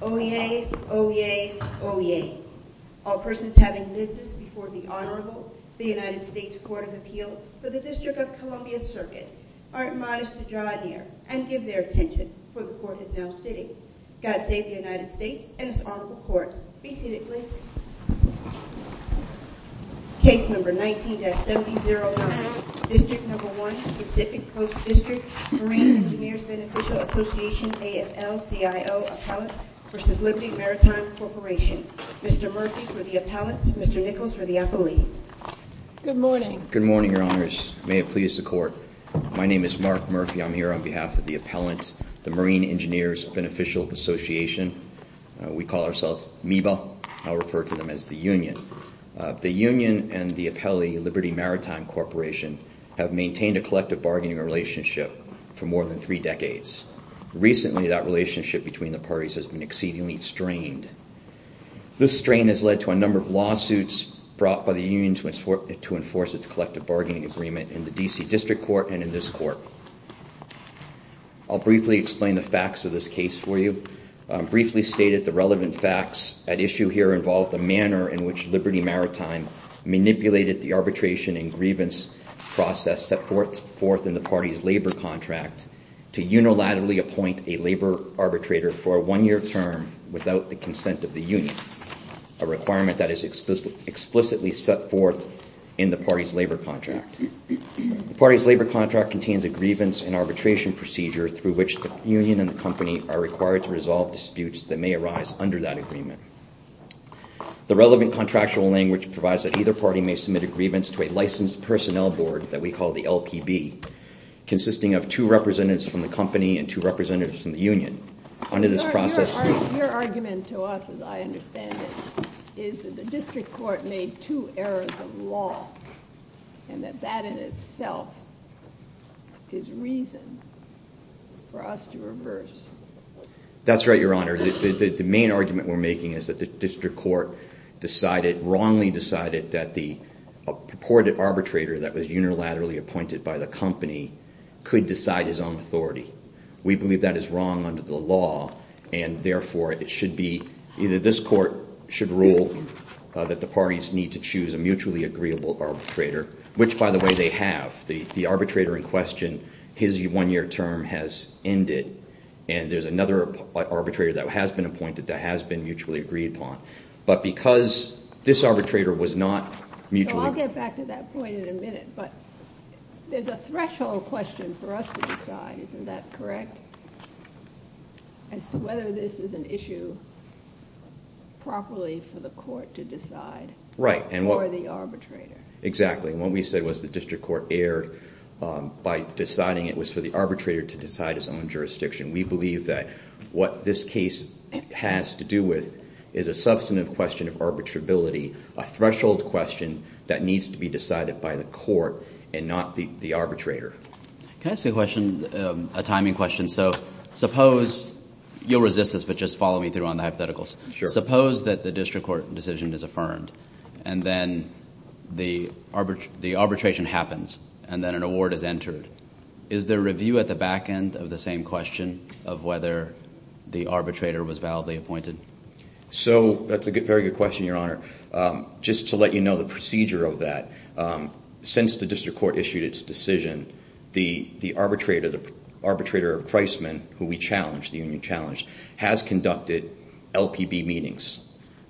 Oyez, oyez, oyez. All persons having business before the Honorable, the United States Court of Appeals for the District of Columbia Circuit, are admonished to draw near and give their attention, for the Court is now sitting. God save the United States and its Honorable Court. Be seated, please. Case No. 19-709, District No. 1, Pacific Coast District, Marine Engineers Beneficial Association, AFL-CIO Appellant v. Liberty Maritime Corporation. Mr. Murphy for the Appellant, Mr. Nichols for the Appellee. Good morning. Good morning, Your Honors. May it please the Court. My name is Mark Murphy. I'm here on behalf of the Appellant, the Marine Engineers Beneficial Association, or BBA. I'll refer to them as the Union. The Union and the Appellee, Liberty Maritime Corporation, have maintained a collective bargaining relationship for more than three decades. Recently, that relationship between the parties has been exceedingly strained. This strain has led to a number of lawsuits brought by the Union to enforce its collective bargaining agreement in the D.C. District Court and in this Court. I'll briefly explain the facts of this case for you. Briefly stated, the relevant facts at issue here involve the manner in which Liberty Maritime manipulated the arbitration and grievance process set forth in the party's labor contract to unilaterally appoint a labor arbitrator for a one-year term without the consent of the Union, a requirement that is procedure through which the Union and the company are required to resolve disputes that may arise under that agreement. The relevant contractual language provides that either party may submit a grievance to a licensed personnel board that we call the LPB, consisting of two representatives from the company and two representatives from the Union. Under this process... Your argument to us, as I understand it, is that the District Court made two errors of law and that that in itself is reason for us to reverse. That's right, Your Honor. The main argument we're making is that the District Court decided, wrongly decided that the purported arbitrator that was unilaterally appointed by the company could decide his own authority. We believe that is wrong under the law and therefore it should be, either this court should rule that the parties need to choose a mutually agreeable arbitrator, which by the way they have. The arbitrator in question, his one-year term has ended and there's another arbitrator that has been appointed that has been mutually agreed upon. But because this arbitrator was not mutually... So I'll get back to that point in a minute, but there's a threshold question for us to decide, isn't that correct? As to whether this is an issue properly for the court to decide or the arbitrator. Exactly, and what we said was the District Court erred by deciding it was for the arbitrator to decide his own jurisdiction. We believe that what this case has to do with is a substantive question of arbitrability, a threshold question that needs to be decided by the court and not the arbitrator. Can I ask you a question, a timing question? So suppose, you'll resist this but just follow me through on the hypotheticals, suppose that the District Court decision is affirmed and then the arbitration happens and then an award is entered, is there review at the back end of the same question of whether the arbitrator was validly appointed? So that's a very good question, Your Honor. Just to let you know the procedure of that, since the District Court issued its decision, the arbitrator, the arbitrator of Priceman, who we challenged, the union challenged, has conducted LPB meetings.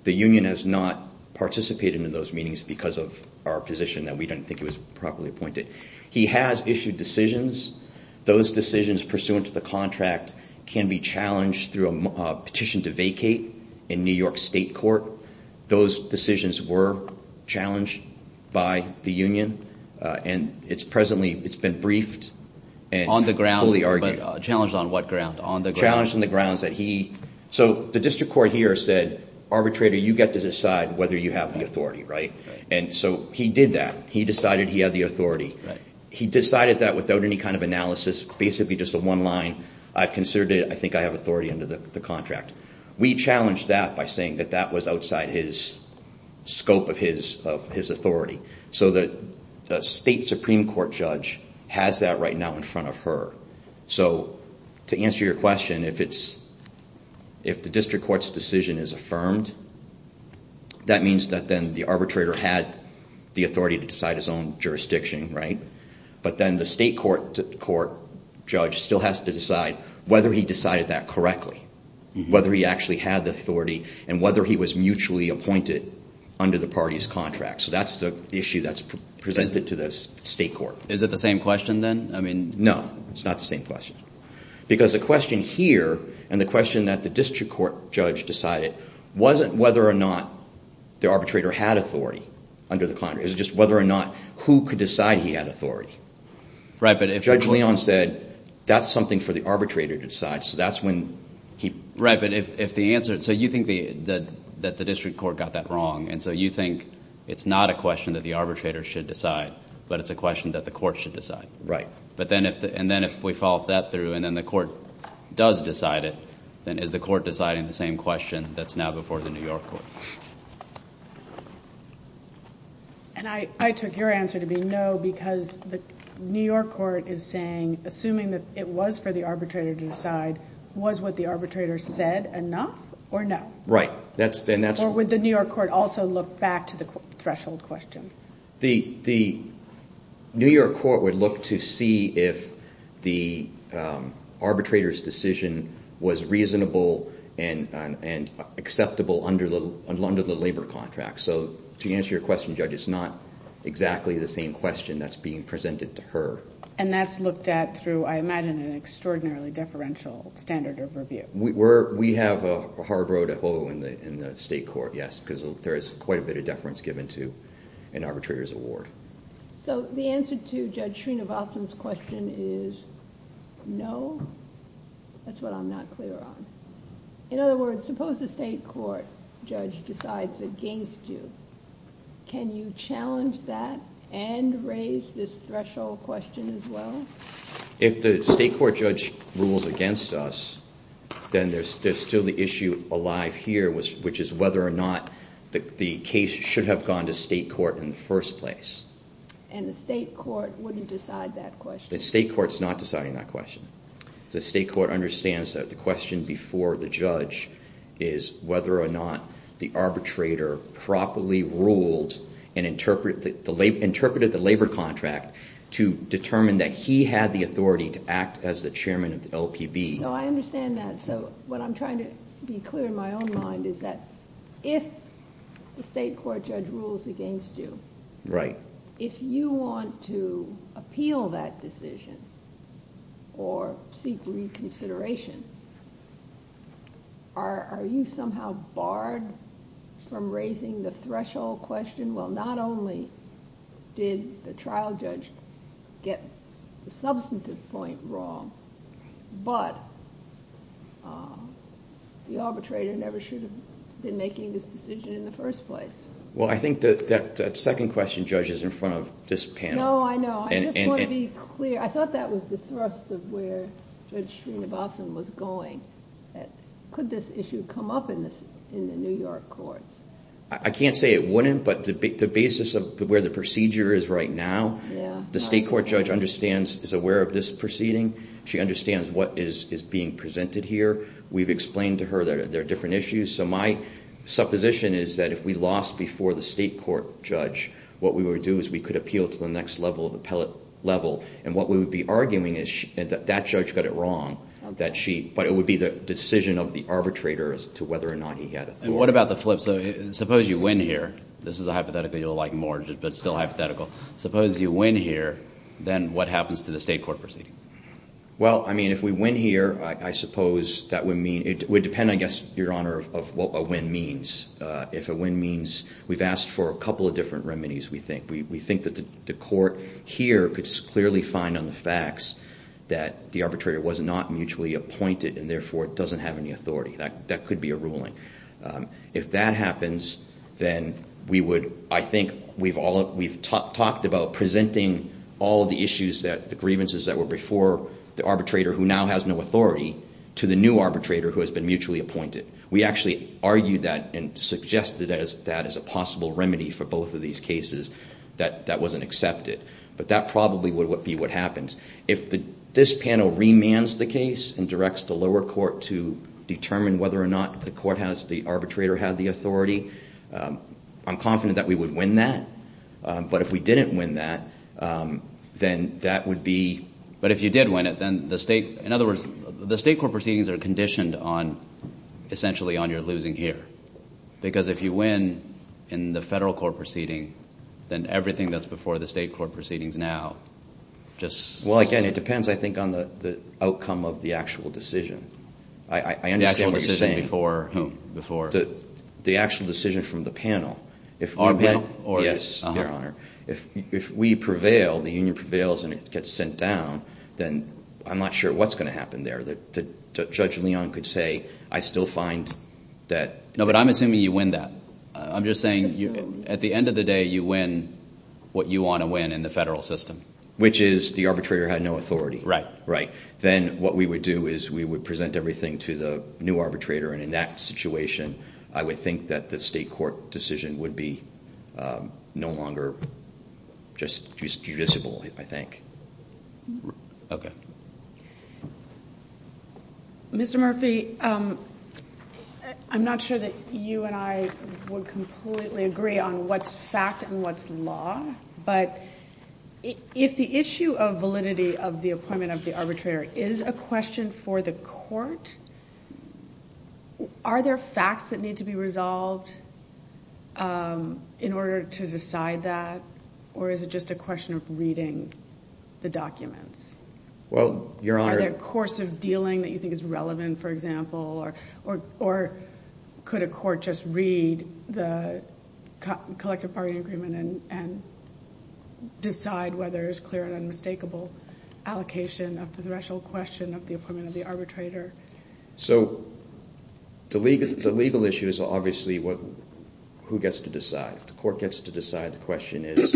The union has not participated in those meetings because of our position that we don't think he was properly appointed. He has issued decisions. Those decisions pursuant to the contract can be challenged through a petition to vacate in New York State Court. Those decisions were challenged by the union. Presently, it's been briefed and fully argued. On the ground, but challenged on what ground? Challenged on the grounds that he, so the District Court here said, arbitrator, you get to decide whether you have the authority, right? And so he did that. He decided he had the authority. He decided that without any kind of analysis, basically just a one line, I've considered it, I think I have authority under the contract. We challenged that by saying that that was outside his scope of his authority. So the State Supreme Court judge has that right now in front of her. So to answer your question, if the District Court's decision is affirmed, that means that then the arbitrator had the authority to decide his own jurisdiction, right? But then the State Court judge still has to decide whether he decided that correctly, whether he actually had the authority and whether he was mutually appointed under the party's contract. So that's the issue that's presented to the State Court. Is it the same question then? No, it's not the same question. Because the question here and the question that the District Court judge decided wasn't whether or not the arbitrator had authority under the contract. It was just whether or not who could decide he had authority. Judge Leon said, that's something for the arbitrator to decide. So that's when he... Right, but if the answer... So you think that the District Court got that wrong, and so you think it's not a question that the arbitrator should decide, but it's a question that the court should decide. Right. And then if we follow that through and then the court does decide it, then is the court deciding the same question that's now before the New York court? And I took your answer to be no, because the New York court is saying, assuming that it was for the arbitrator to decide, was what the arbitrator said enough or no? Right. Or would the New York court also look back to the threshold question? The New York court would look to see if the arbitrator's decision was reasonable and acceptable under the labor contract. So to answer your question, Judge, it's not exactly the same question that's being presented to her. And that's looked at through, I imagine, an extraordinarily deferential standard of review. We have a hard road to hoe in the state court, yes, because there is quite a bit of deference given to an arbitrator's award. So the answer to Judge Srinivasan's question is no. That's what I'm not clear on. In other words, suppose the state court judge decides against you. Can you challenge that and raise this threshold question as well? If the state court judge rules against us, then there's still the issue alive here, which is whether or not the case should have gone to state court in the first place. And the state court wouldn't decide that question. The state court's not deciding that question. The state court understands that the question before the judge is whether or not the arbitrator properly ruled and interpreted the labor contract to determine that he had the authority to act as the chairman of the LPB. I understand that. So what I'm trying to be clear in my own mind is that if the state court judge rules against you, if you want to appeal that decision or seek reconsideration, are you somehow barred from raising the threshold question? Well, not only did the trial judge get the substantive point wrong, but the arbitrator never should have been making this decision in the first place. Well, I think that second question, Judge, is in front of this panel. I know, I know. I just want to be clear. I thought that was the thrust of where Judge Srinivasan was going. Could this issue come up in the New York courts? I can't say it wouldn't, but the basis of where the procedure is right now, the state court judge is aware of this proceeding. She understands what is being presented here. We've explained to her that there are different issues. So my supposition is that if we lost before the state court judge, what we would do is we could appeal to the next level, the appellate level, and what we would be arguing is that that judge got it wrong, but it would be the decision of the arbitrator as to whether or not he had authority. And what about the flip? So suppose you win here. This is a hypothetical you'll like more, but still hypothetical. Suppose you win here, then what happens to the state court proceedings? Well, I mean, if we win here, I suppose that would mean it would depend, I guess, Your Honor, of what a win means. If a win means we've asked for a couple of different remedies, we think. I think that the court here could clearly find on the facts that the arbitrator was not mutually appointed and therefore doesn't have any authority. That could be a ruling. If that happens, then we would, I think, we've talked about presenting all of the issues, the grievances that were before the arbitrator who now has no authority to the new arbitrator who has been mutually appointed. We actually argued that and suggested that as a possible remedy for both of these cases that that wasn't accepted. But that probably would be what happens. If this panel remands the case and directs the lower court to determine whether or not the court has, the arbitrator had the authority, I'm confident that we would win that. But if we didn't win that, then that would be, but if you did win it, then the state, in other words, the state court proceedings are conditioned on, essentially, on your losing here. Because if you win in the federal court proceeding, then everything that's before the state court proceedings now just. Well, again, it depends, I think, on the outcome of the actual decision. I understand what you're saying. The actual decision before whom? Before? The actual decision from the panel. Our panel? Yes, Your Honor. If we prevail, the union prevails and it gets sent down, then I'm not sure what's going to happen there. Judge Leon could say, I still find that. No, but I'm assuming you win that. I'm just saying at the end of the day you win what you want to win in the federal system. Which is the arbitrator had no authority. Right. Then what we would do is we would present everything to the new arbitrator, and in that situation I would think that the state court decision would be no longer just judiciable, I think. Okay. Mr. Murphy, I'm not sure that you and I would completely agree on what's fact and what's law, but if the issue of validity of the appointment of the arbitrator is a question for the court, are there facts that need to be resolved in order to decide that, or is it just a question of reading the documents? Well, Your Honor. Are they a course of dealing that you think is relevant, for example, or could a court just read the collective bargaining agreement and decide whether it's clear and unmistakable allocation of the threshold question of the appointment of the arbitrator? So the legal issue is obviously who gets to decide. If the court gets to decide, the question is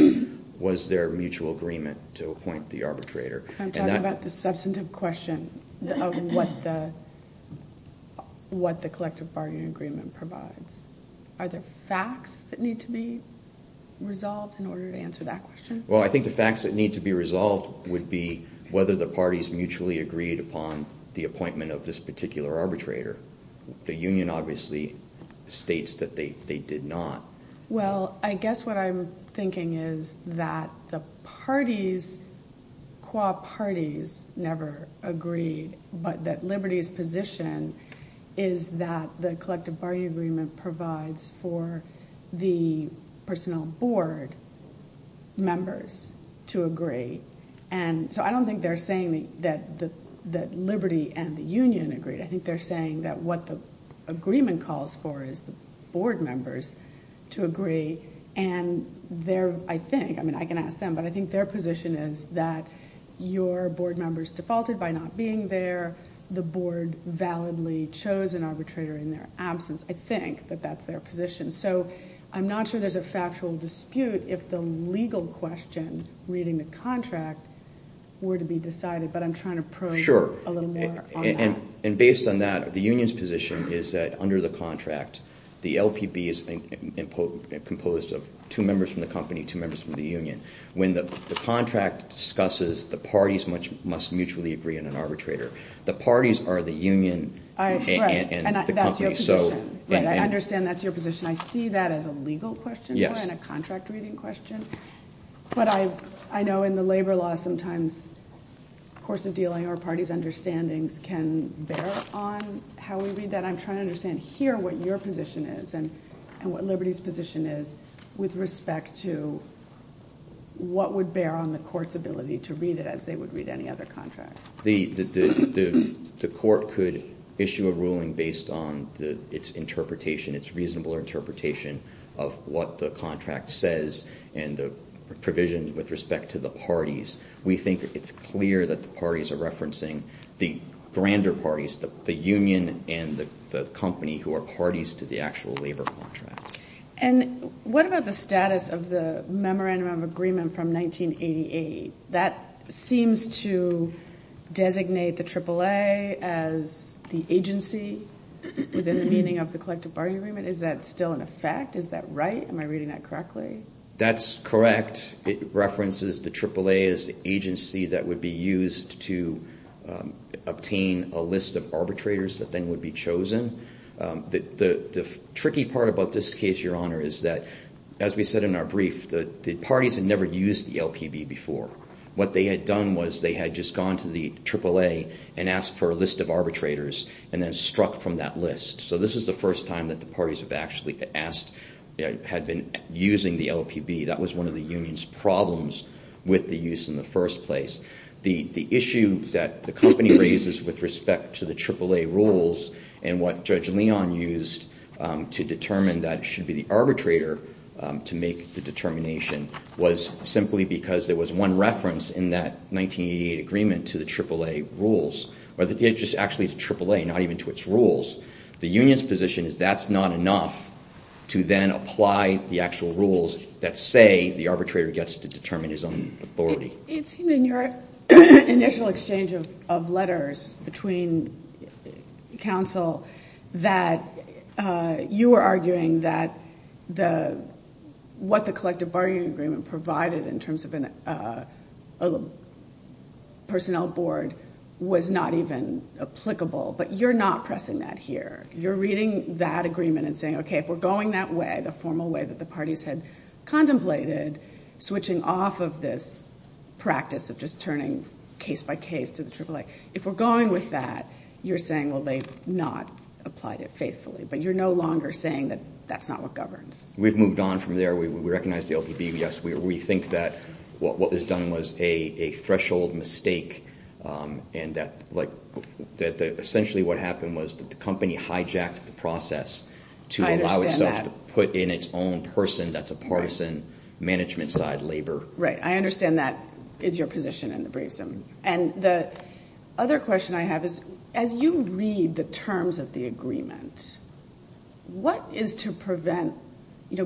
was there mutual agreement to appoint the arbitrator. I'm talking about the substantive question of what the collective bargaining agreement provides. Are there facts that need to be resolved in order to answer that question? Well, I think the facts that need to be resolved would be whether the parties mutually agreed upon the appointment of this particular arbitrator. The union obviously states that they did not. Well, I guess what I'm thinking is that the parties, qua parties, never agreed, but that liberty's position is that the collective bargaining agreement provides for the personnel board members to agree. And so I don't think they're saying that liberty and the union agreed. I think they're saying that what the agreement calls for is the board members to agree, and I can ask them, but I think their position is that your board members defaulted by not being there. The board validly chose an arbitrator in their absence. I think that that's their position. So I'm not sure there's a factual dispute if the legal question reading the contract were to be decided, but I'm trying to probe a little more on that. And based on that, the union's position is that under the contract, the LPB is composed of two members from the company, two members from the union. When the contract discusses the parties must mutually agree on an arbitrator, the parties are the union and the company. Right, and that's your position. I understand that's your position. I see that as a legal question and a contract reading question. But I know in the labor law sometimes the course of dealing or parties' understandings can bear on how we read that. I'm trying to understand here what your position is and what liberty's position is with respect to what would bear on the court's ability to read it as they would read any other contract. The court could issue a ruling based on its interpretation, its reasonable interpretation of what the contract says and the provision with respect to the parties. We think it's clear that the parties are referencing the grander parties, the union and the company who are parties to the actual labor contract. And what about the status of the Memorandum of Agreement from 1988? That seems to designate the AAA as the agency within the meaning of the collective bargaining agreement. Is that still in effect? Is that right? Am I reading that correctly? That's correct. It references the AAA as the agency that would be used to obtain a list of arbitrators that then would be chosen. The tricky part about this case, Your Honor, is that as we said in our brief, the parties had never used the LPB before. What they had done was they had just gone to the AAA and asked for a list of arbitrators and then struck from that list. So this is the first time that the parties have actually asked, had been using the LPB. That was one of the union's problems with the use in the first place. The issue that the company raises with respect to the AAA rules and what Judge Leon used to determine that it should be the arbitrator to make the determination was simply because there was one reference in that 1988 agreement to the AAA rules. It's just actually the AAA, not even to its rules. The union's position is that's not enough to then apply the actual rules that say the arbitrator gets to determine his own authority. It seemed in your initial exchange of letters between counsel that you were arguing that what the collective bargaining agreement provided in terms of a personnel board was not even applicable, but you're not pressing that here. You're reading that agreement and saying, okay, if we're going that way, the formal way that the parties had contemplated, switching off of this practice of just turning case by case to the AAA. If we're going with that, you're saying, well, they've not applied it faithfully. But you're no longer saying that that's not what governs. We've moved on from there. We recognize the LPB. Yes, we think that what was done was a threshold mistake and that essentially what happened was that the company hijacked the process to allow itself to put in its own person that's a partisan management side labor. Right. I understand that is your position in the briefs. And the other question I have is, as you read the terms of the agreement, what is to prevent,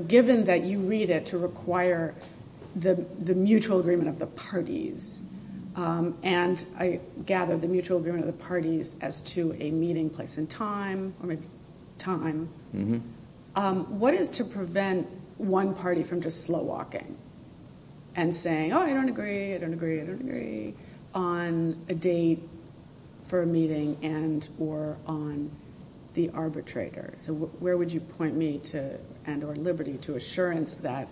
given that you read it to require the mutual agreement of the parties, and I gather the mutual agreement of the parties as to a meeting place and time, what is to prevent one party from just slow walking and saying, oh, I don't agree, I don't agree, I don't agree on a date for a meeting and or on the arbitrator. So where would you point me to and or liberty to assurance that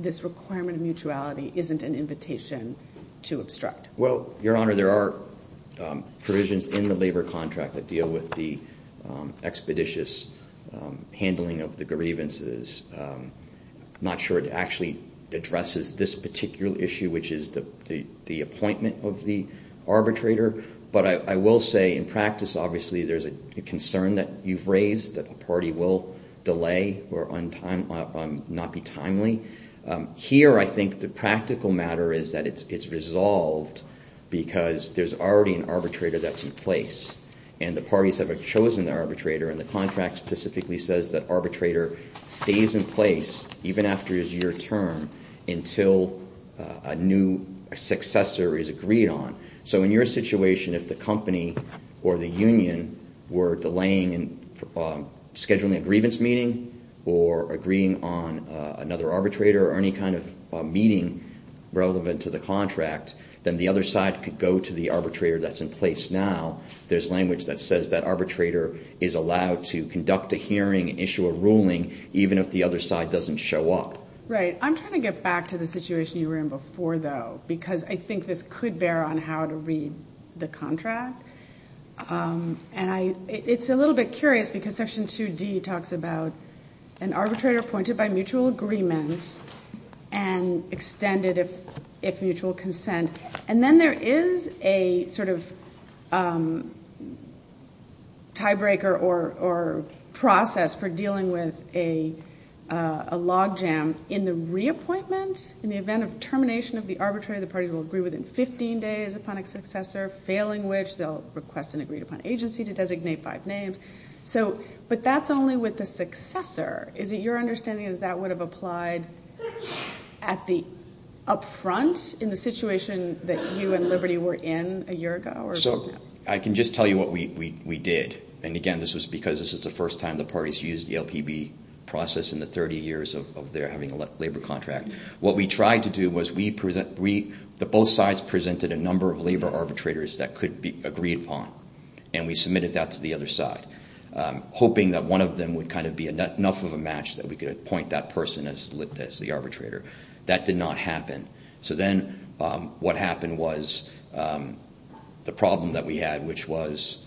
this requirement of mutuality isn't an invitation to obstruct? Well, Your Honor, there are provisions in the labor contract that deal with the expeditious handling of the grievances. I'm not sure it actually addresses this particular issue, which is the appointment of the arbitrator. But I will say in practice, obviously, there's a concern that you've raised that the party will delay or not be timely. Here, I think the practical matter is that it's resolved because there's already an arbitrator that's in place. And the parties have chosen the arbitrator. And the contract specifically says that arbitrator stays in place even after his year term until a new successor is agreed on. So in your situation, if the company or the union were delaying in scheduling a grievance meeting or agreeing on another arbitrator or any kind of meeting relevant to the contract, then the other side could go to the arbitrator that's in place now. There's language that says that arbitrator is allowed to conduct a hearing, issue a ruling, even if the other side doesn't show up. Right. I'm trying to get back to the situation you were in before, though, because I think this could bear on how to read the contract. And it's a little bit curious because Section 2D talks about an arbitrator appointed by mutual agreement and extended if mutual consent. And then there is a sort of tiebreaker or process for dealing with a logjam in the reappointment, in the event of termination of the arbitrator, the parties will agree within 15 days upon a successor, failing which they'll request an agreed upon agency to designate five names. But that's only with the successor. Is it your understanding that that would have applied up front in the situation that you and Liberty were in a year ago? I can just tell you what we did. And again, this was because this was the first time the parties used the LPB process in the 30 years of their having a labor contract. What we tried to do was the both sides presented a number of labor arbitrators that could be agreed upon. And we submitted that to the other side, hoping that one of them would kind of be enough of a match that we could appoint that person as the arbitrator. That did not happen. So then what happened was the problem that we had, which was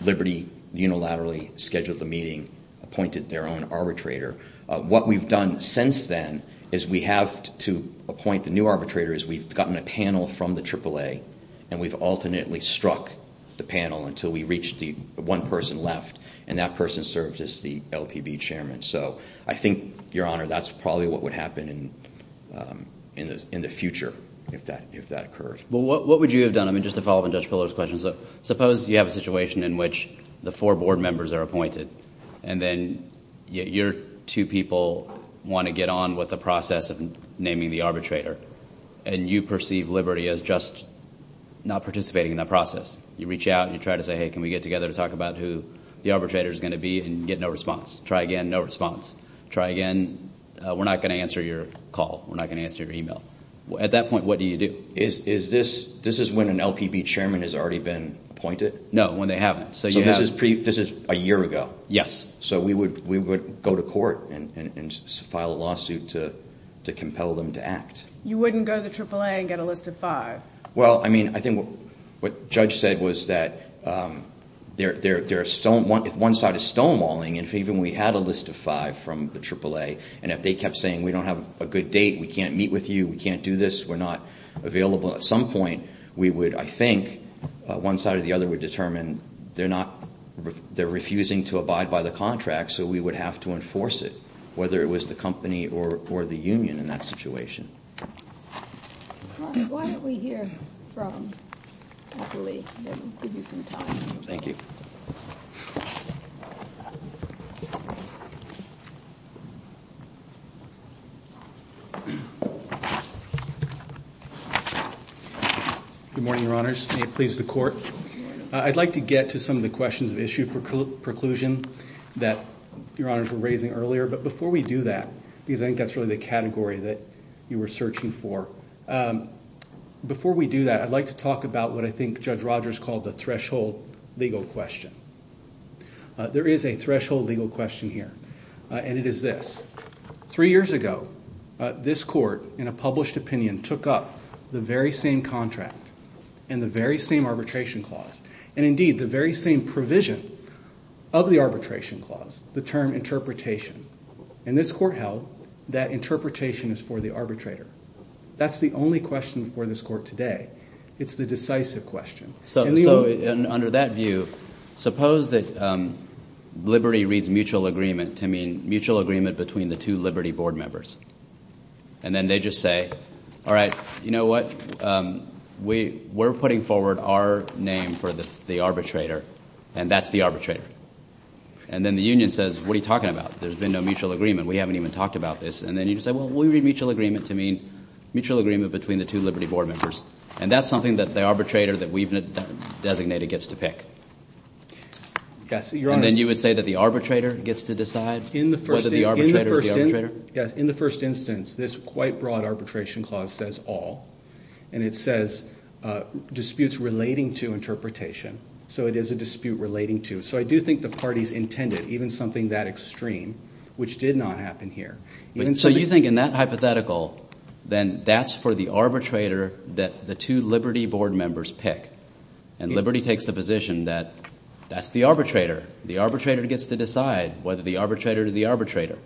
Liberty unilaterally scheduled the meeting, appointed their own arbitrator. What we've done since then is we have to appoint the new arbitrator as we've gotten a panel from the AAA, and we've alternately struck the panel until we reach the one person left, and that person serves as the LPB chairman. So I think, Your Honor, that's probably what would happen in the future if that occurs. Well, what would you have done? I mean, just to follow up on Judge Pillow's question. Suppose you have a situation in which the four board members are appointed, and then your two people want to get on with the process of naming the arbitrator, and you perceive Liberty as just not participating in that process. You reach out and you try to say, hey, can we get together to talk about who the arbitrator is going to be, and you get no response. Try again, no response. Try again, we're not going to answer your call. We're not going to answer your email. At that point, what do you do? Is this when an LPB chairman has already been appointed? No, when they haven't. So this is a year ago. Yes. So we would go to court and file a lawsuit to compel them to act. You wouldn't go to the AAA and get a list of five. Well, I mean, I think what Judge said was that if one side is stonewalling, and if even we had a list of five from the AAA, and if they kept saying we don't have a good date, we can't meet with you, we can't do this, we're not available, at some point we would, I think, one side or the other would determine they're refusing to abide by the contract, so we would have to enforce it, whether it was the company or the union in that situation. Why don't we hear from Anthony and give you some time. Thank you. Good morning, Your Honors. May it please the Court. Good morning. I'd like to get to some of the questions of issue preclusion that Your Honors were raising earlier, but before we do that, because I think that's really the category that you were searching for, before we do that, I'd like to talk about what I think Judge Rogers called the threshold legal question. There is a threshold legal question here, and it is this. Three years ago, this Court, in a published opinion, took up the very same contract and the very same arbitration clause, and indeed the very same provision of the arbitration clause, the term interpretation, and this Court held that interpretation is for the arbitrator. That's the only question before this Court today. It's the decisive question. So under that view, suppose that liberty reads mutual agreement to mean mutual agreement between the two liberty board members, and then they just say, all right, you know what, we're putting forward our name for the arbitrator, and that's the arbitrator, and then the union says, what are you talking about? There's been no mutual agreement. We haven't even talked about this. And then you say, well, we read mutual agreement to mean mutual agreement between the two liberty board members, and that's something that the arbitrator that we've designated gets to pick. And then you would say that the arbitrator gets to decide whether the arbitrator is the arbitrator? Yes, in the first instance, this quite broad arbitration clause says all, and it says disputes relating to interpretation, so it is a dispute relating to. So I do think the parties intended even something that extreme, which did not happen here. So you think in that hypothetical, then that's for the arbitrator that the two liberty board members pick, and liberty takes the position that that's the arbitrator. The arbitrator gets to decide whether the arbitrator is the arbitrator.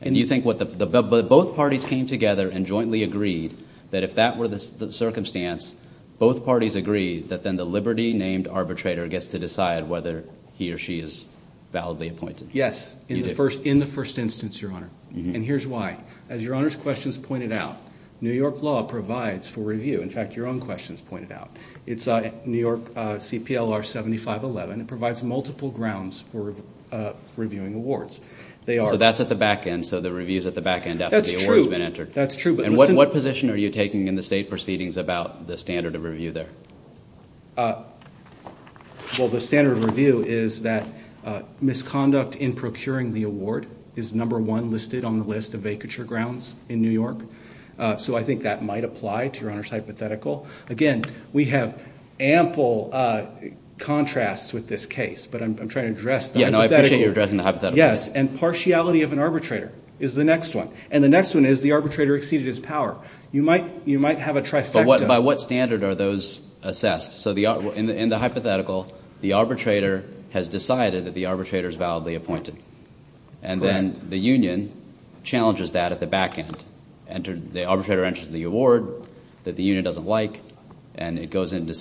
But both parties came together and jointly agreed that if that were the circumstance, both parties agreed that then the liberty named arbitrator gets to decide whether he or she is validly appointed. Yes, in the first instance, Your Honor, and here's why. As Your Honor's questions pointed out, New York law provides for review. In fact, your own questions pointed out. It's New York CPLR 7511. It provides multiple grounds for reviewing awards. So that's at the back end, so the review is at the back end after the award has been entered. That's true. And what position are you taking in the state proceedings about the standard of review there? Well, the standard of review is that misconduct in procuring the award is number one listed on the list of vacature grounds in New York. So I think that might apply to Your Honor's hypothetical. Again, we have ample contrasts with this case, but I'm trying to address the hypothetical. Yeah, no, I appreciate you addressing the hypothetical. Yes, and partiality of an arbitrator is the next one. And the next one is the arbitrator exceeded his power. You might have a trifecta. But by what standard are those assessed? So in the hypothetical, the arbitrator has decided that the arbitrator is validly appointed. Correct. And then the union challenges that at the back end. The arbitrator enters the award that the union doesn't like, and it goes into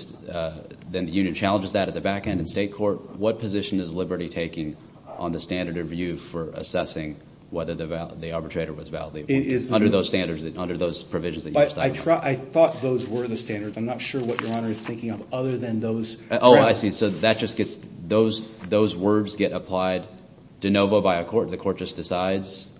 – then the union challenges that at the back end in state court. What position is Liberty taking on the standard of view for assessing whether the arbitrator was validly appointed? Under those standards, under those provisions that you just outlined. I thought those were the standards. I'm not sure what Your Honor is thinking of other than those. Oh, I see. So that just gets – those words get applied de novo by a court. The court just decides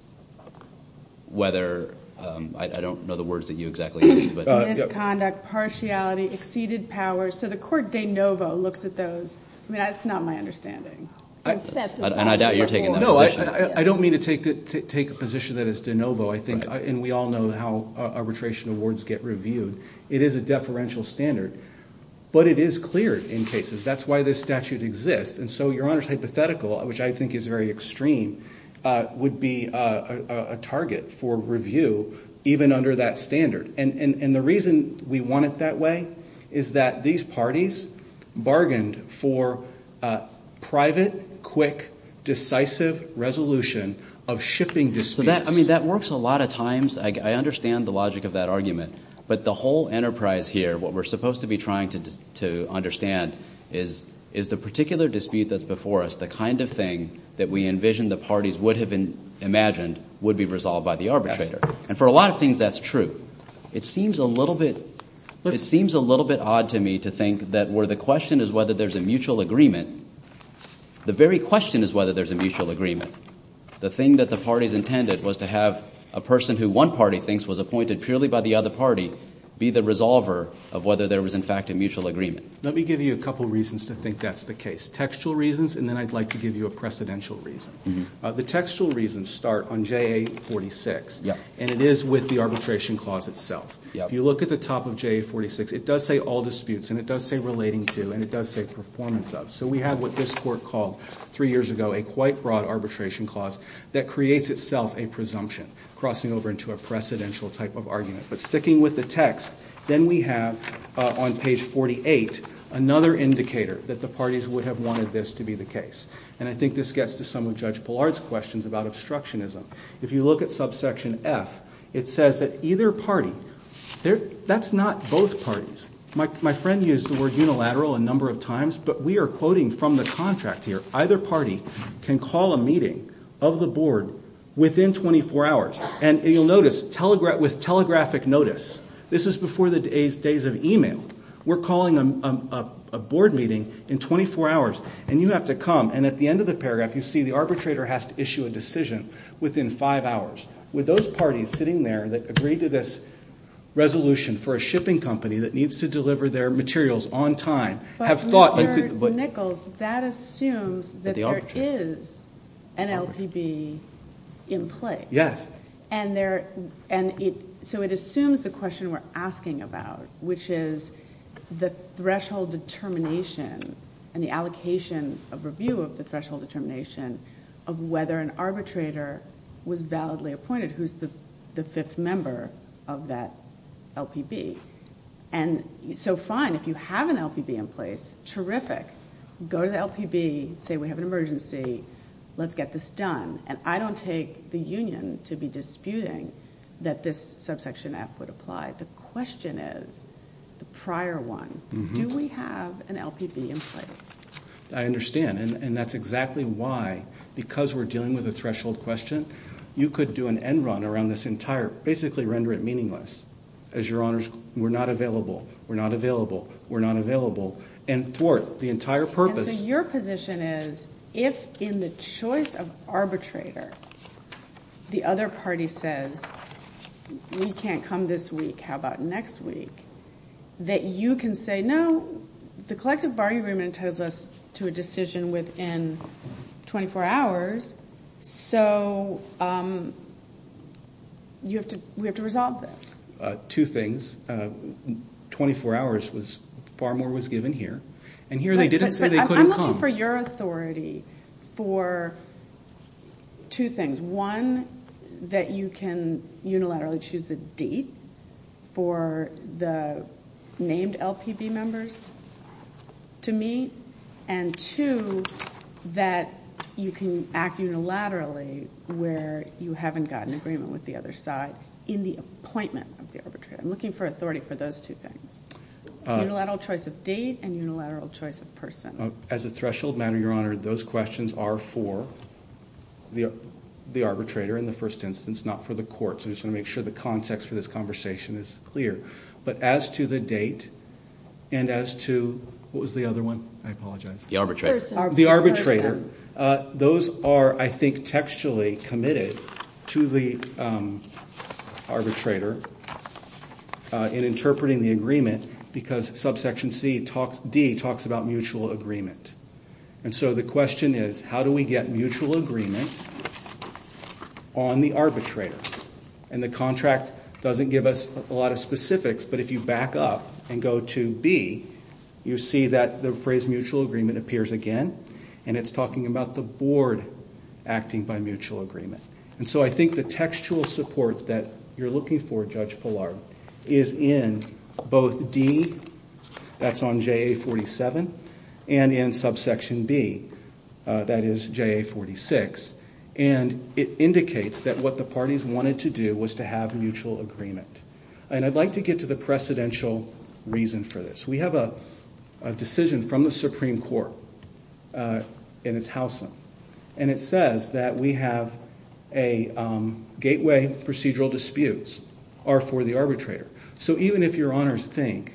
whether – I don't know the words that you exactly used. Misconduct, partiality, exceeded power. So the court de novo looks at those. I mean, that's not my understanding. And I doubt you're taking that position. No, I don't mean to take a position that is de novo. I think – and we all know how arbitration awards get reviewed. It is a deferential standard. But it is clear in cases. That's why this statute exists. And so Your Honor's hypothetical, which I think is very extreme, would be a target for review even under that standard. And the reason we want it that way is that these parties bargained for private, quick, decisive resolution of shipping disputes. I mean, that works a lot of times. I understand the logic of that argument. But the whole enterprise here, what we're supposed to be trying to understand, is the particular dispute that's before us, the kind of thing that we envision the parties would have imagined would be resolved by the arbitrator. And for a lot of things, that's true. It seems a little bit odd to me to think that where the question is whether there's a mutual agreement, the very question is whether there's a mutual agreement. The thing that the parties intended was to have a person who one party thinks was appointed purely by the other party be the resolver of whether there was in fact a mutual agreement. Let me give you a couple reasons to think that's the case, textual reasons, and then I'd like to give you a precedential reason. The textual reasons start on JA 46, and it is with the arbitration clause itself. If you look at the top of JA 46, it does say all disputes, and it does say relating to, and it does say performance of. So we have what this court called three years ago a quite broad arbitration clause that creates itself a presumption, crossing over into a precedential type of argument. But sticking with the text, then we have on page 48 another indicator that the parties would have wanted this to be the case. And I think this gets to some of Judge Pillard's questions about obstructionism. If you look at subsection F, it says that either party, that's not both parties. My friend used the word unilateral a number of times, but we are quoting from the contract here. Either party can call a meeting of the board within 24 hours, and you'll notice with telegraphic notice, this is before the days of e-mail, we're calling a board meeting in 24 hours, and you have to come, and at the end of the paragraph you see the arbitrator has to issue a decision within five hours. With those parties sitting there that agreed to this resolution for a shipping company that needs to deliver their materials on time, have thought you could... But, Mr. Nichols, that assumes that there is an LPB in place. Yes. So it assumes the question we're asking about, which is the threshold determination and the allocation of review of the threshold determination of whether an arbitrator was validly appointed, who's the fifth member of that LPB. And so fine, if you have an LPB in place, terrific. Go to the LPB, say we have an emergency, let's get this done. And I don't take the union to be disputing that this subsection F would apply. The question is, the prior one, do we have an LPB in place? I understand, and that's exactly why, because we're dealing with a threshold question, you could do an end run around this entire, basically render it meaningless, as your honors, we're not available, we're not available, we're not available, and thwart the entire purpose. And so your position is, if in the choice of arbitrator the other party says, we can't come this week, how about next week, that you can say, no, the collective bargaining agreement tells us to a decision within 24 hours, so we have to resolve this. Two things. 24 hours, far more was given here, and here they didn't say they couldn't come. I'm looking for your authority for two things. One, that you can unilaterally choose the date for the named LPB members to meet, and two, that you can act unilaterally where you haven't got an agreement with the other side in the appointment of the arbitrator. I'm looking for authority for those two things. Unilateral choice of date and unilateral choice of person. As a threshold matter, your honor, those questions are for the arbitrator in the first instance, not for the courts. I just want to make sure the context for this conversation is clear. But as to the date, and as to, what was the other one? I apologize. The arbitrator. Those are, I think, textually committed to the arbitrator in interpreting the agreement, because subsection D talks about mutual agreement. And so the question is, how do we get mutual agreement on the arbitrator? And the contract doesn't give us a lot of specifics, but if you back up and go to B, you see that the phrase mutual agreement appears again, and it's talking about the board acting by mutual agreement. And so I think the textual support that you're looking for, Judge Pillar, is in both D, that's on JA 47, and in subsection B, that is JA 46. And it indicates that what the parties wanted to do was to have mutual agreement. And I'd like to get to the precedential reason for this. We have a decision from the Supreme Court in its house. And it says that we have a gateway procedural disputes are for the arbitrator. So even if your honors think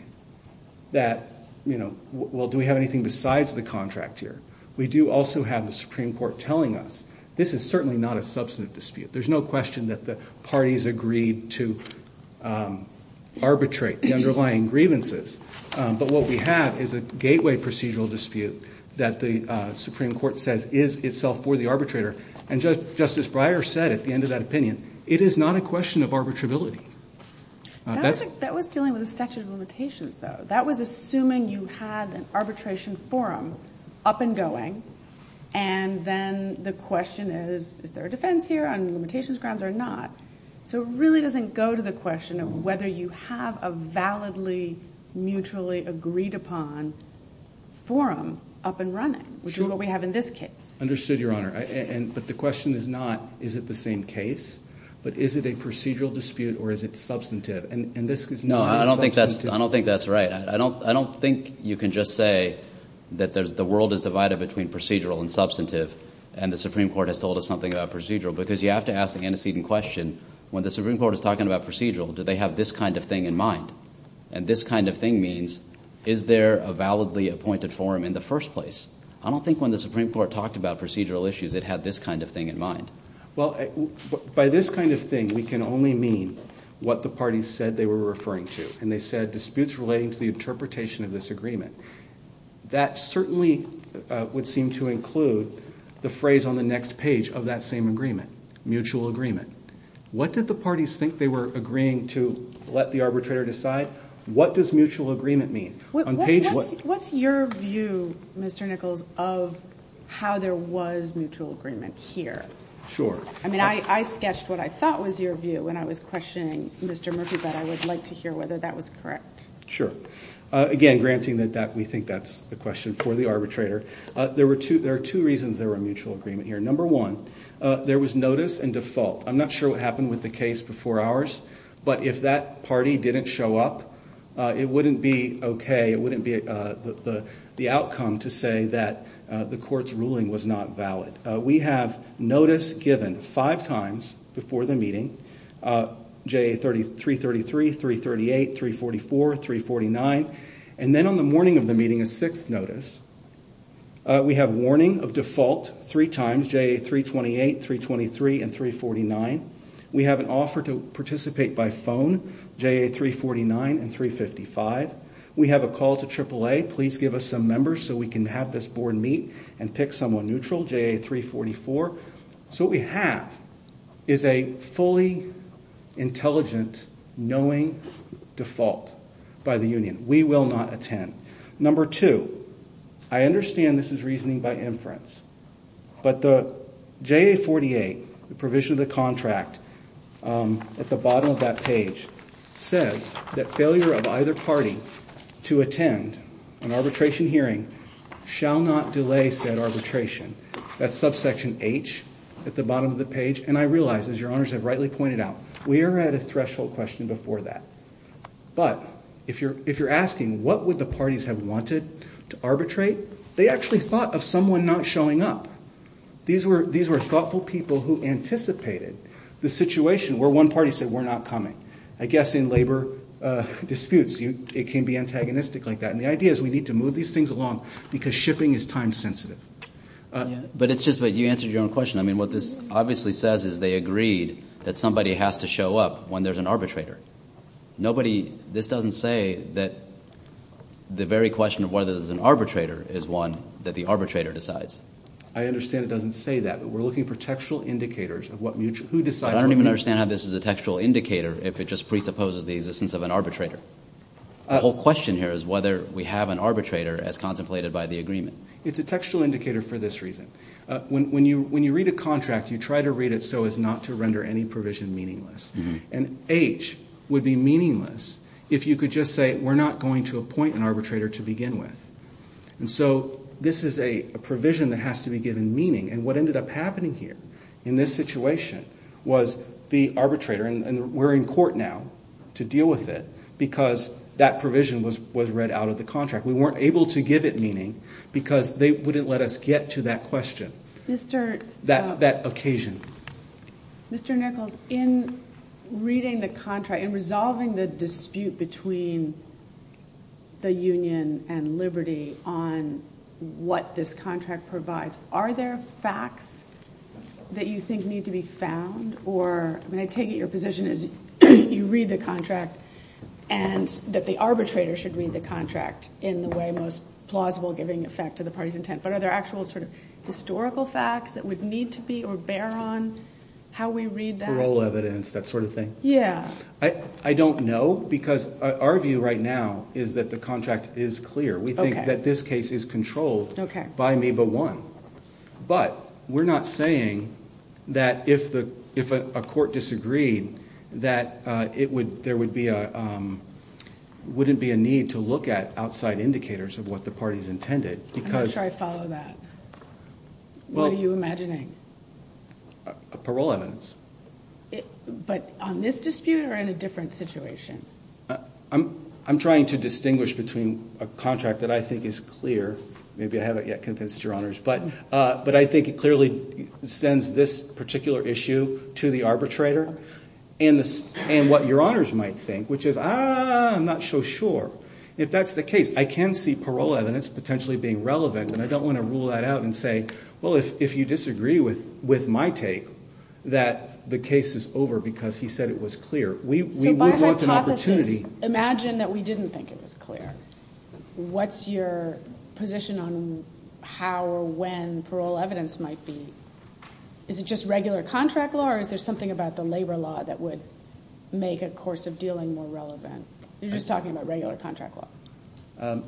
that, well, do we have anything besides the contract here? We do also have the Supreme Court telling us this is certainly not a substantive dispute. There's no question that the parties agreed to arbitrate the underlying grievances. But what we have is a gateway procedural dispute that the Supreme Court says is itself for the arbitrator. And Justice Breyer said at the end of that opinion, it is not a question of arbitrability. That was dealing with the statute of limitations, though. That was assuming you had an arbitration forum up and going, and then the question is, is there a defense here on limitations grounds or not? So it really doesn't go to the question of whether you have a validly mutually agreed upon forum up and running, which is what we have in this case. Understood, Your Honor. But the question is not, is it the same case? But is it a procedural dispute or is it substantive? And this is not substantive. No, I don't think that's right. I don't think you can just say that the world is divided between procedural and substantive and the Supreme Court has told us something about procedural because you have to ask the antecedent question, when the Supreme Court is talking about procedural, do they have this kind of thing in mind? And this kind of thing means, is there a validly appointed forum in the first place? I don't think when the Supreme Court talked about procedural issues, it had this kind of thing in mind. Well, by this kind of thing, we can only mean what the parties said they were referring to, and they said disputes relating to the interpretation of this agreement. That certainly would seem to include the phrase on the next page of that same agreement, mutual agreement. What did the parties think they were agreeing to let the arbitrator decide? What does mutual agreement mean? What's your view, Mr. Nichols, of how there was mutual agreement here? Sure. I mean, I sketched what I thought was your view when I was questioning Mr. Murphy, but I would like to hear whether that was correct. Sure. Again, granting that we think that's the question for the arbitrator, there are two reasons there were mutual agreement here. Number one, there was notice and default. I'm not sure what happened with the case before ours, but if that party didn't show up, it wouldn't be okay, it wouldn't be the outcome to say that the court's ruling was not valid. We have notice given five times before the meeting, JA333, 338, 344, 349, and then on the morning of the meeting is sixth notice. We have warning of default three times, JA328, 323, and 349. We have an offer to participate by phone, JA349 and 355. We have a call to AAA, please give us some members so we can have this board meet and pick someone neutral, JA344. So what we have is a fully intelligent, knowing default by the union. We will not attend. Number two, I understand this is reasoning by inference, but the JA48, the provision of the contract at the bottom of that page, says that failure of either party to attend an arbitration hearing shall not delay said arbitration. That's subsection H at the bottom of the page, and I realize, as your honors have rightly pointed out, we are at a threshold question before that. But if you're asking what would the parties have wanted to arbitrate, they actually thought of someone not showing up. These were thoughtful people who anticipated the situation where one party said we're not coming. I guess in labor disputes it can be antagonistic like that, and the idea is we need to move these things along because shipping is time sensitive. But it's just that you answered your own question. I mean what this obviously says is they agreed that somebody has to show up when there's an arbitrator. This doesn't say that the very question of whether there's an arbitrator is one that the arbitrator decides. I understand it doesn't say that, but we're looking for textual indicators of who decides what. I don't even understand how this is a textual indicator if it just presupposes the existence of an arbitrator. The whole question here is whether we have an arbitrator as contemplated by the agreement. It's a textual indicator for this reason. When you read a contract, you try to read it so as not to render any provision meaningless. And H would be meaningless if you could just say we're not going to appoint an arbitrator to begin with. And so this is a provision that has to be given meaning, and what ended up happening here in this situation was the arbitrator, and we're in court now to deal with it, because that provision was read out of the contract. We weren't able to give it meaning because they wouldn't let us get to that question, that occasion. Mr. Nichols, in reading the contract, in resolving the dispute between the union and Liberty on what this contract provides, are there facts that you think need to be found? I take it your position is you read the contract and that the arbitrator should read the contract in the way most plausible, giving effect to the party's intent. But are there actual historical facts that would need to be or bear on how we read that? Parole evidence, that sort of thing? Yeah. I don't know, because our view right now is that the contract is clear. We think that this case is controlled by MEBA 1. But we're not saying that if a court disagreed that there wouldn't be a need to look at outside indicators of what the party's intended, because... I'm not sure I follow that. What are you imagining? Parole evidence. But on this dispute or in a different situation? I'm trying to distinguish between a contract that I think is clear, maybe I haven't yet convinced your honors, but I think it clearly extends this particular issue to the arbitrator and what your honors might think, which is, ah, I'm not so sure if that's the case. I can see parole evidence potentially being relevant, and I don't want to rule that out and say, well, if you disagree with my take, that the case is over because he said it was clear. So by hypothesis, imagine that we didn't think it was clear. What's your position on how or when parole evidence might be? Is it just regular contract law, or is there something about the labor law that would make a course of dealing more relevant? You're just talking about regular contract law.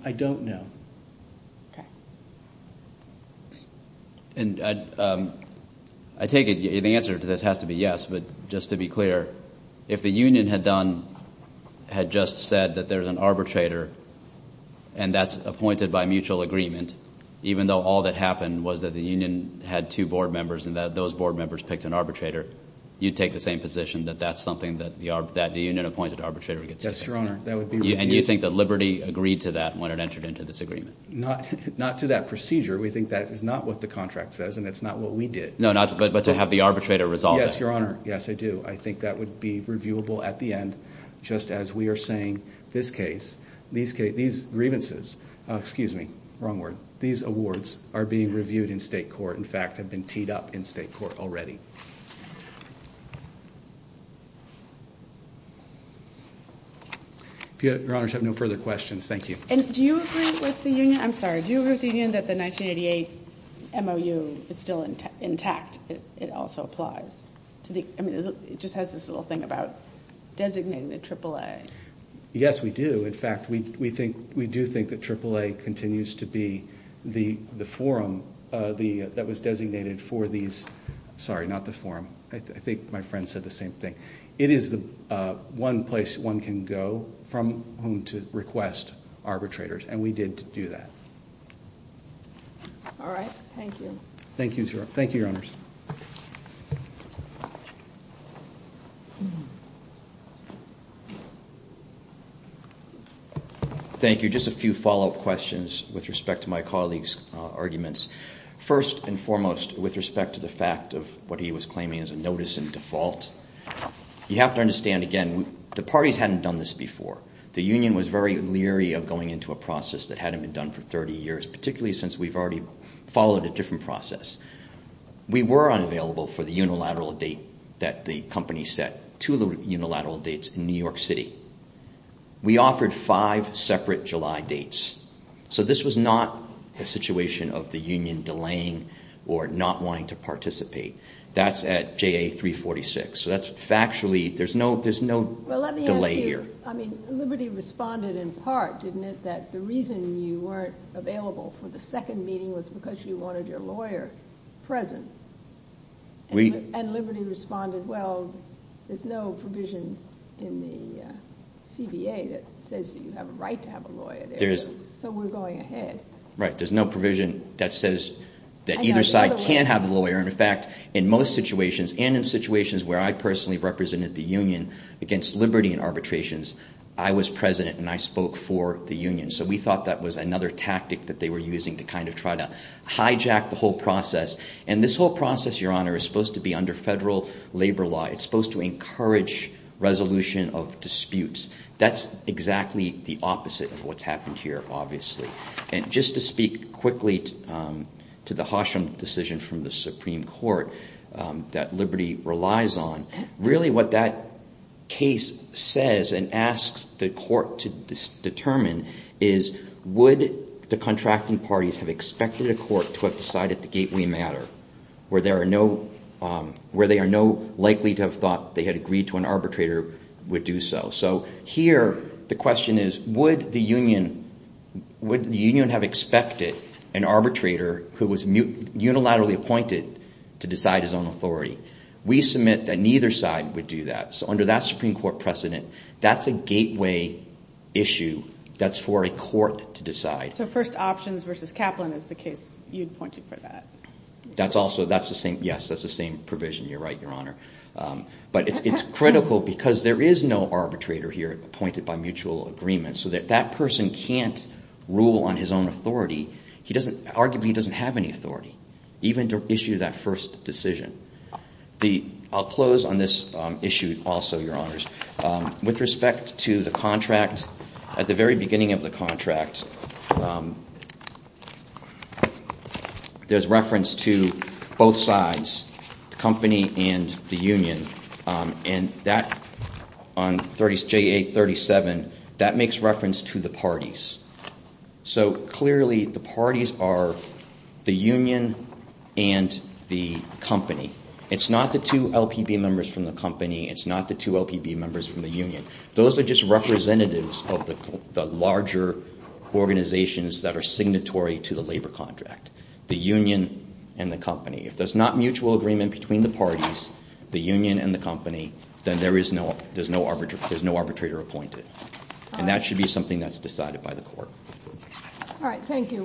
I don't know. Okay. I take it the answer to this has to be yes, but just to be clear, if the union had done, had just said that there's an arbitrator and that's appointed by mutual agreement, even though all that happened was that the union had two board members and that those board members picked an arbitrator, you'd take the same position that that's something that the union-appointed arbitrator gets to say. Yes, your honor. And do you think that Liberty agreed to that when it entered into this agreement? Not to that procedure. We think that is not what the contract says, and it's not what we did. No, but to have the arbitrator resolve it. Yes, your honor, yes, I do. I think that would be reviewable at the end, just as we are saying this case, these grievances, excuse me, wrong word, these awards are being reviewed in state court, in fact have been teed up in state court already. If your honors have no further questions, thank you. And do you agree with the union, I'm sorry, do you agree with the union that the 1988 MOU is still intact? It also applies. It just has this little thing about designating the AAA. Yes, we do. In fact, we do think that AAA continues to be the forum that was designated for these, sorry, not the forum. I think my friend said the same thing. It is the one place one can go from whom to request arbitrators, All right, thank you. Thank you, sir. Thank you, your honors. Thank you. Just a few follow-up questions with respect to my colleague's arguments. First and foremost, with respect to the fact of what he was claiming as a notice in default, you have to understand, again, the parties hadn't done this before. The union was very leery of going into a process that hadn't been done for 30 years, particularly since we've already followed a different process. We were unavailable for the unilateral date that the company set, two unilateral dates in New York City. We offered five separate July dates. So this was not a situation of the union delaying or not wanting to participate. That's at JA 346. So that's factually, there's no delay here. Well, let me ask you, I mean, Liberty responded in part, didn't it, that the reason you weren't available for the second meeting was because you wanted your lawyer present? And Liberty responded, well, there's no provision in the CBA that says that you have a right to have a lawyer there, so we're going ahead. Right, there's no provision that says that either side can have a lawyer. And, in fact, in most situations, and in situations where I personally represented the union against Liberty in arbitrations, I was president and I spoke for the union. So we thought that was another tactic that they were using to kind of try to hijack the whole process. And this whole process, Your Honor, is supposed to be under federal labor law. It's supposed to encourage resolution of disputes. That's exactly the opposite of what's happened here, obviously. And just to speak quickly to the Horsham decision from the Supreme Court that Liberty relies on, really what that case says and asks the court to determine is would the contracting parties have expected a court to have decided the gateway matter where they are no likely to have thought they had agreed to an arbitrator would do so. So here the question is, would the union have expected an arbitrator who was unilaterally appointed to decide his own authority? We submit that neither side would do that. So under that Supreme Court precedent, that's a gateway issue that's for a court to decide. So first options versus Kaplan is the case you'd point to for that. Yes, that's the same provision. You're right, Your Honor. But it's critical because there is no arbitrator here appointed by mutual agreement. So that person can't rule on his own authority. Arguably he doesn't have any authority, even to issue that first decision. I'll close on this issue also, Your Honors. With respect to the contract, at the very beginning of the contract, there's reference to both sides, the company and the union. And that, on JA-37, that makes reference to the parties. So clearly the parties are the union and the company. It's not the two LPB members from the company. It's not the two LPB members from the union. Those are just representatives of the larger organizations that are signatory to the labor contract, the union and the company. If there's not mutual agreement between the parties, the union and the company, then there's no arbitrator appointed. And that should be something that's decided by the court. All right. Thank you.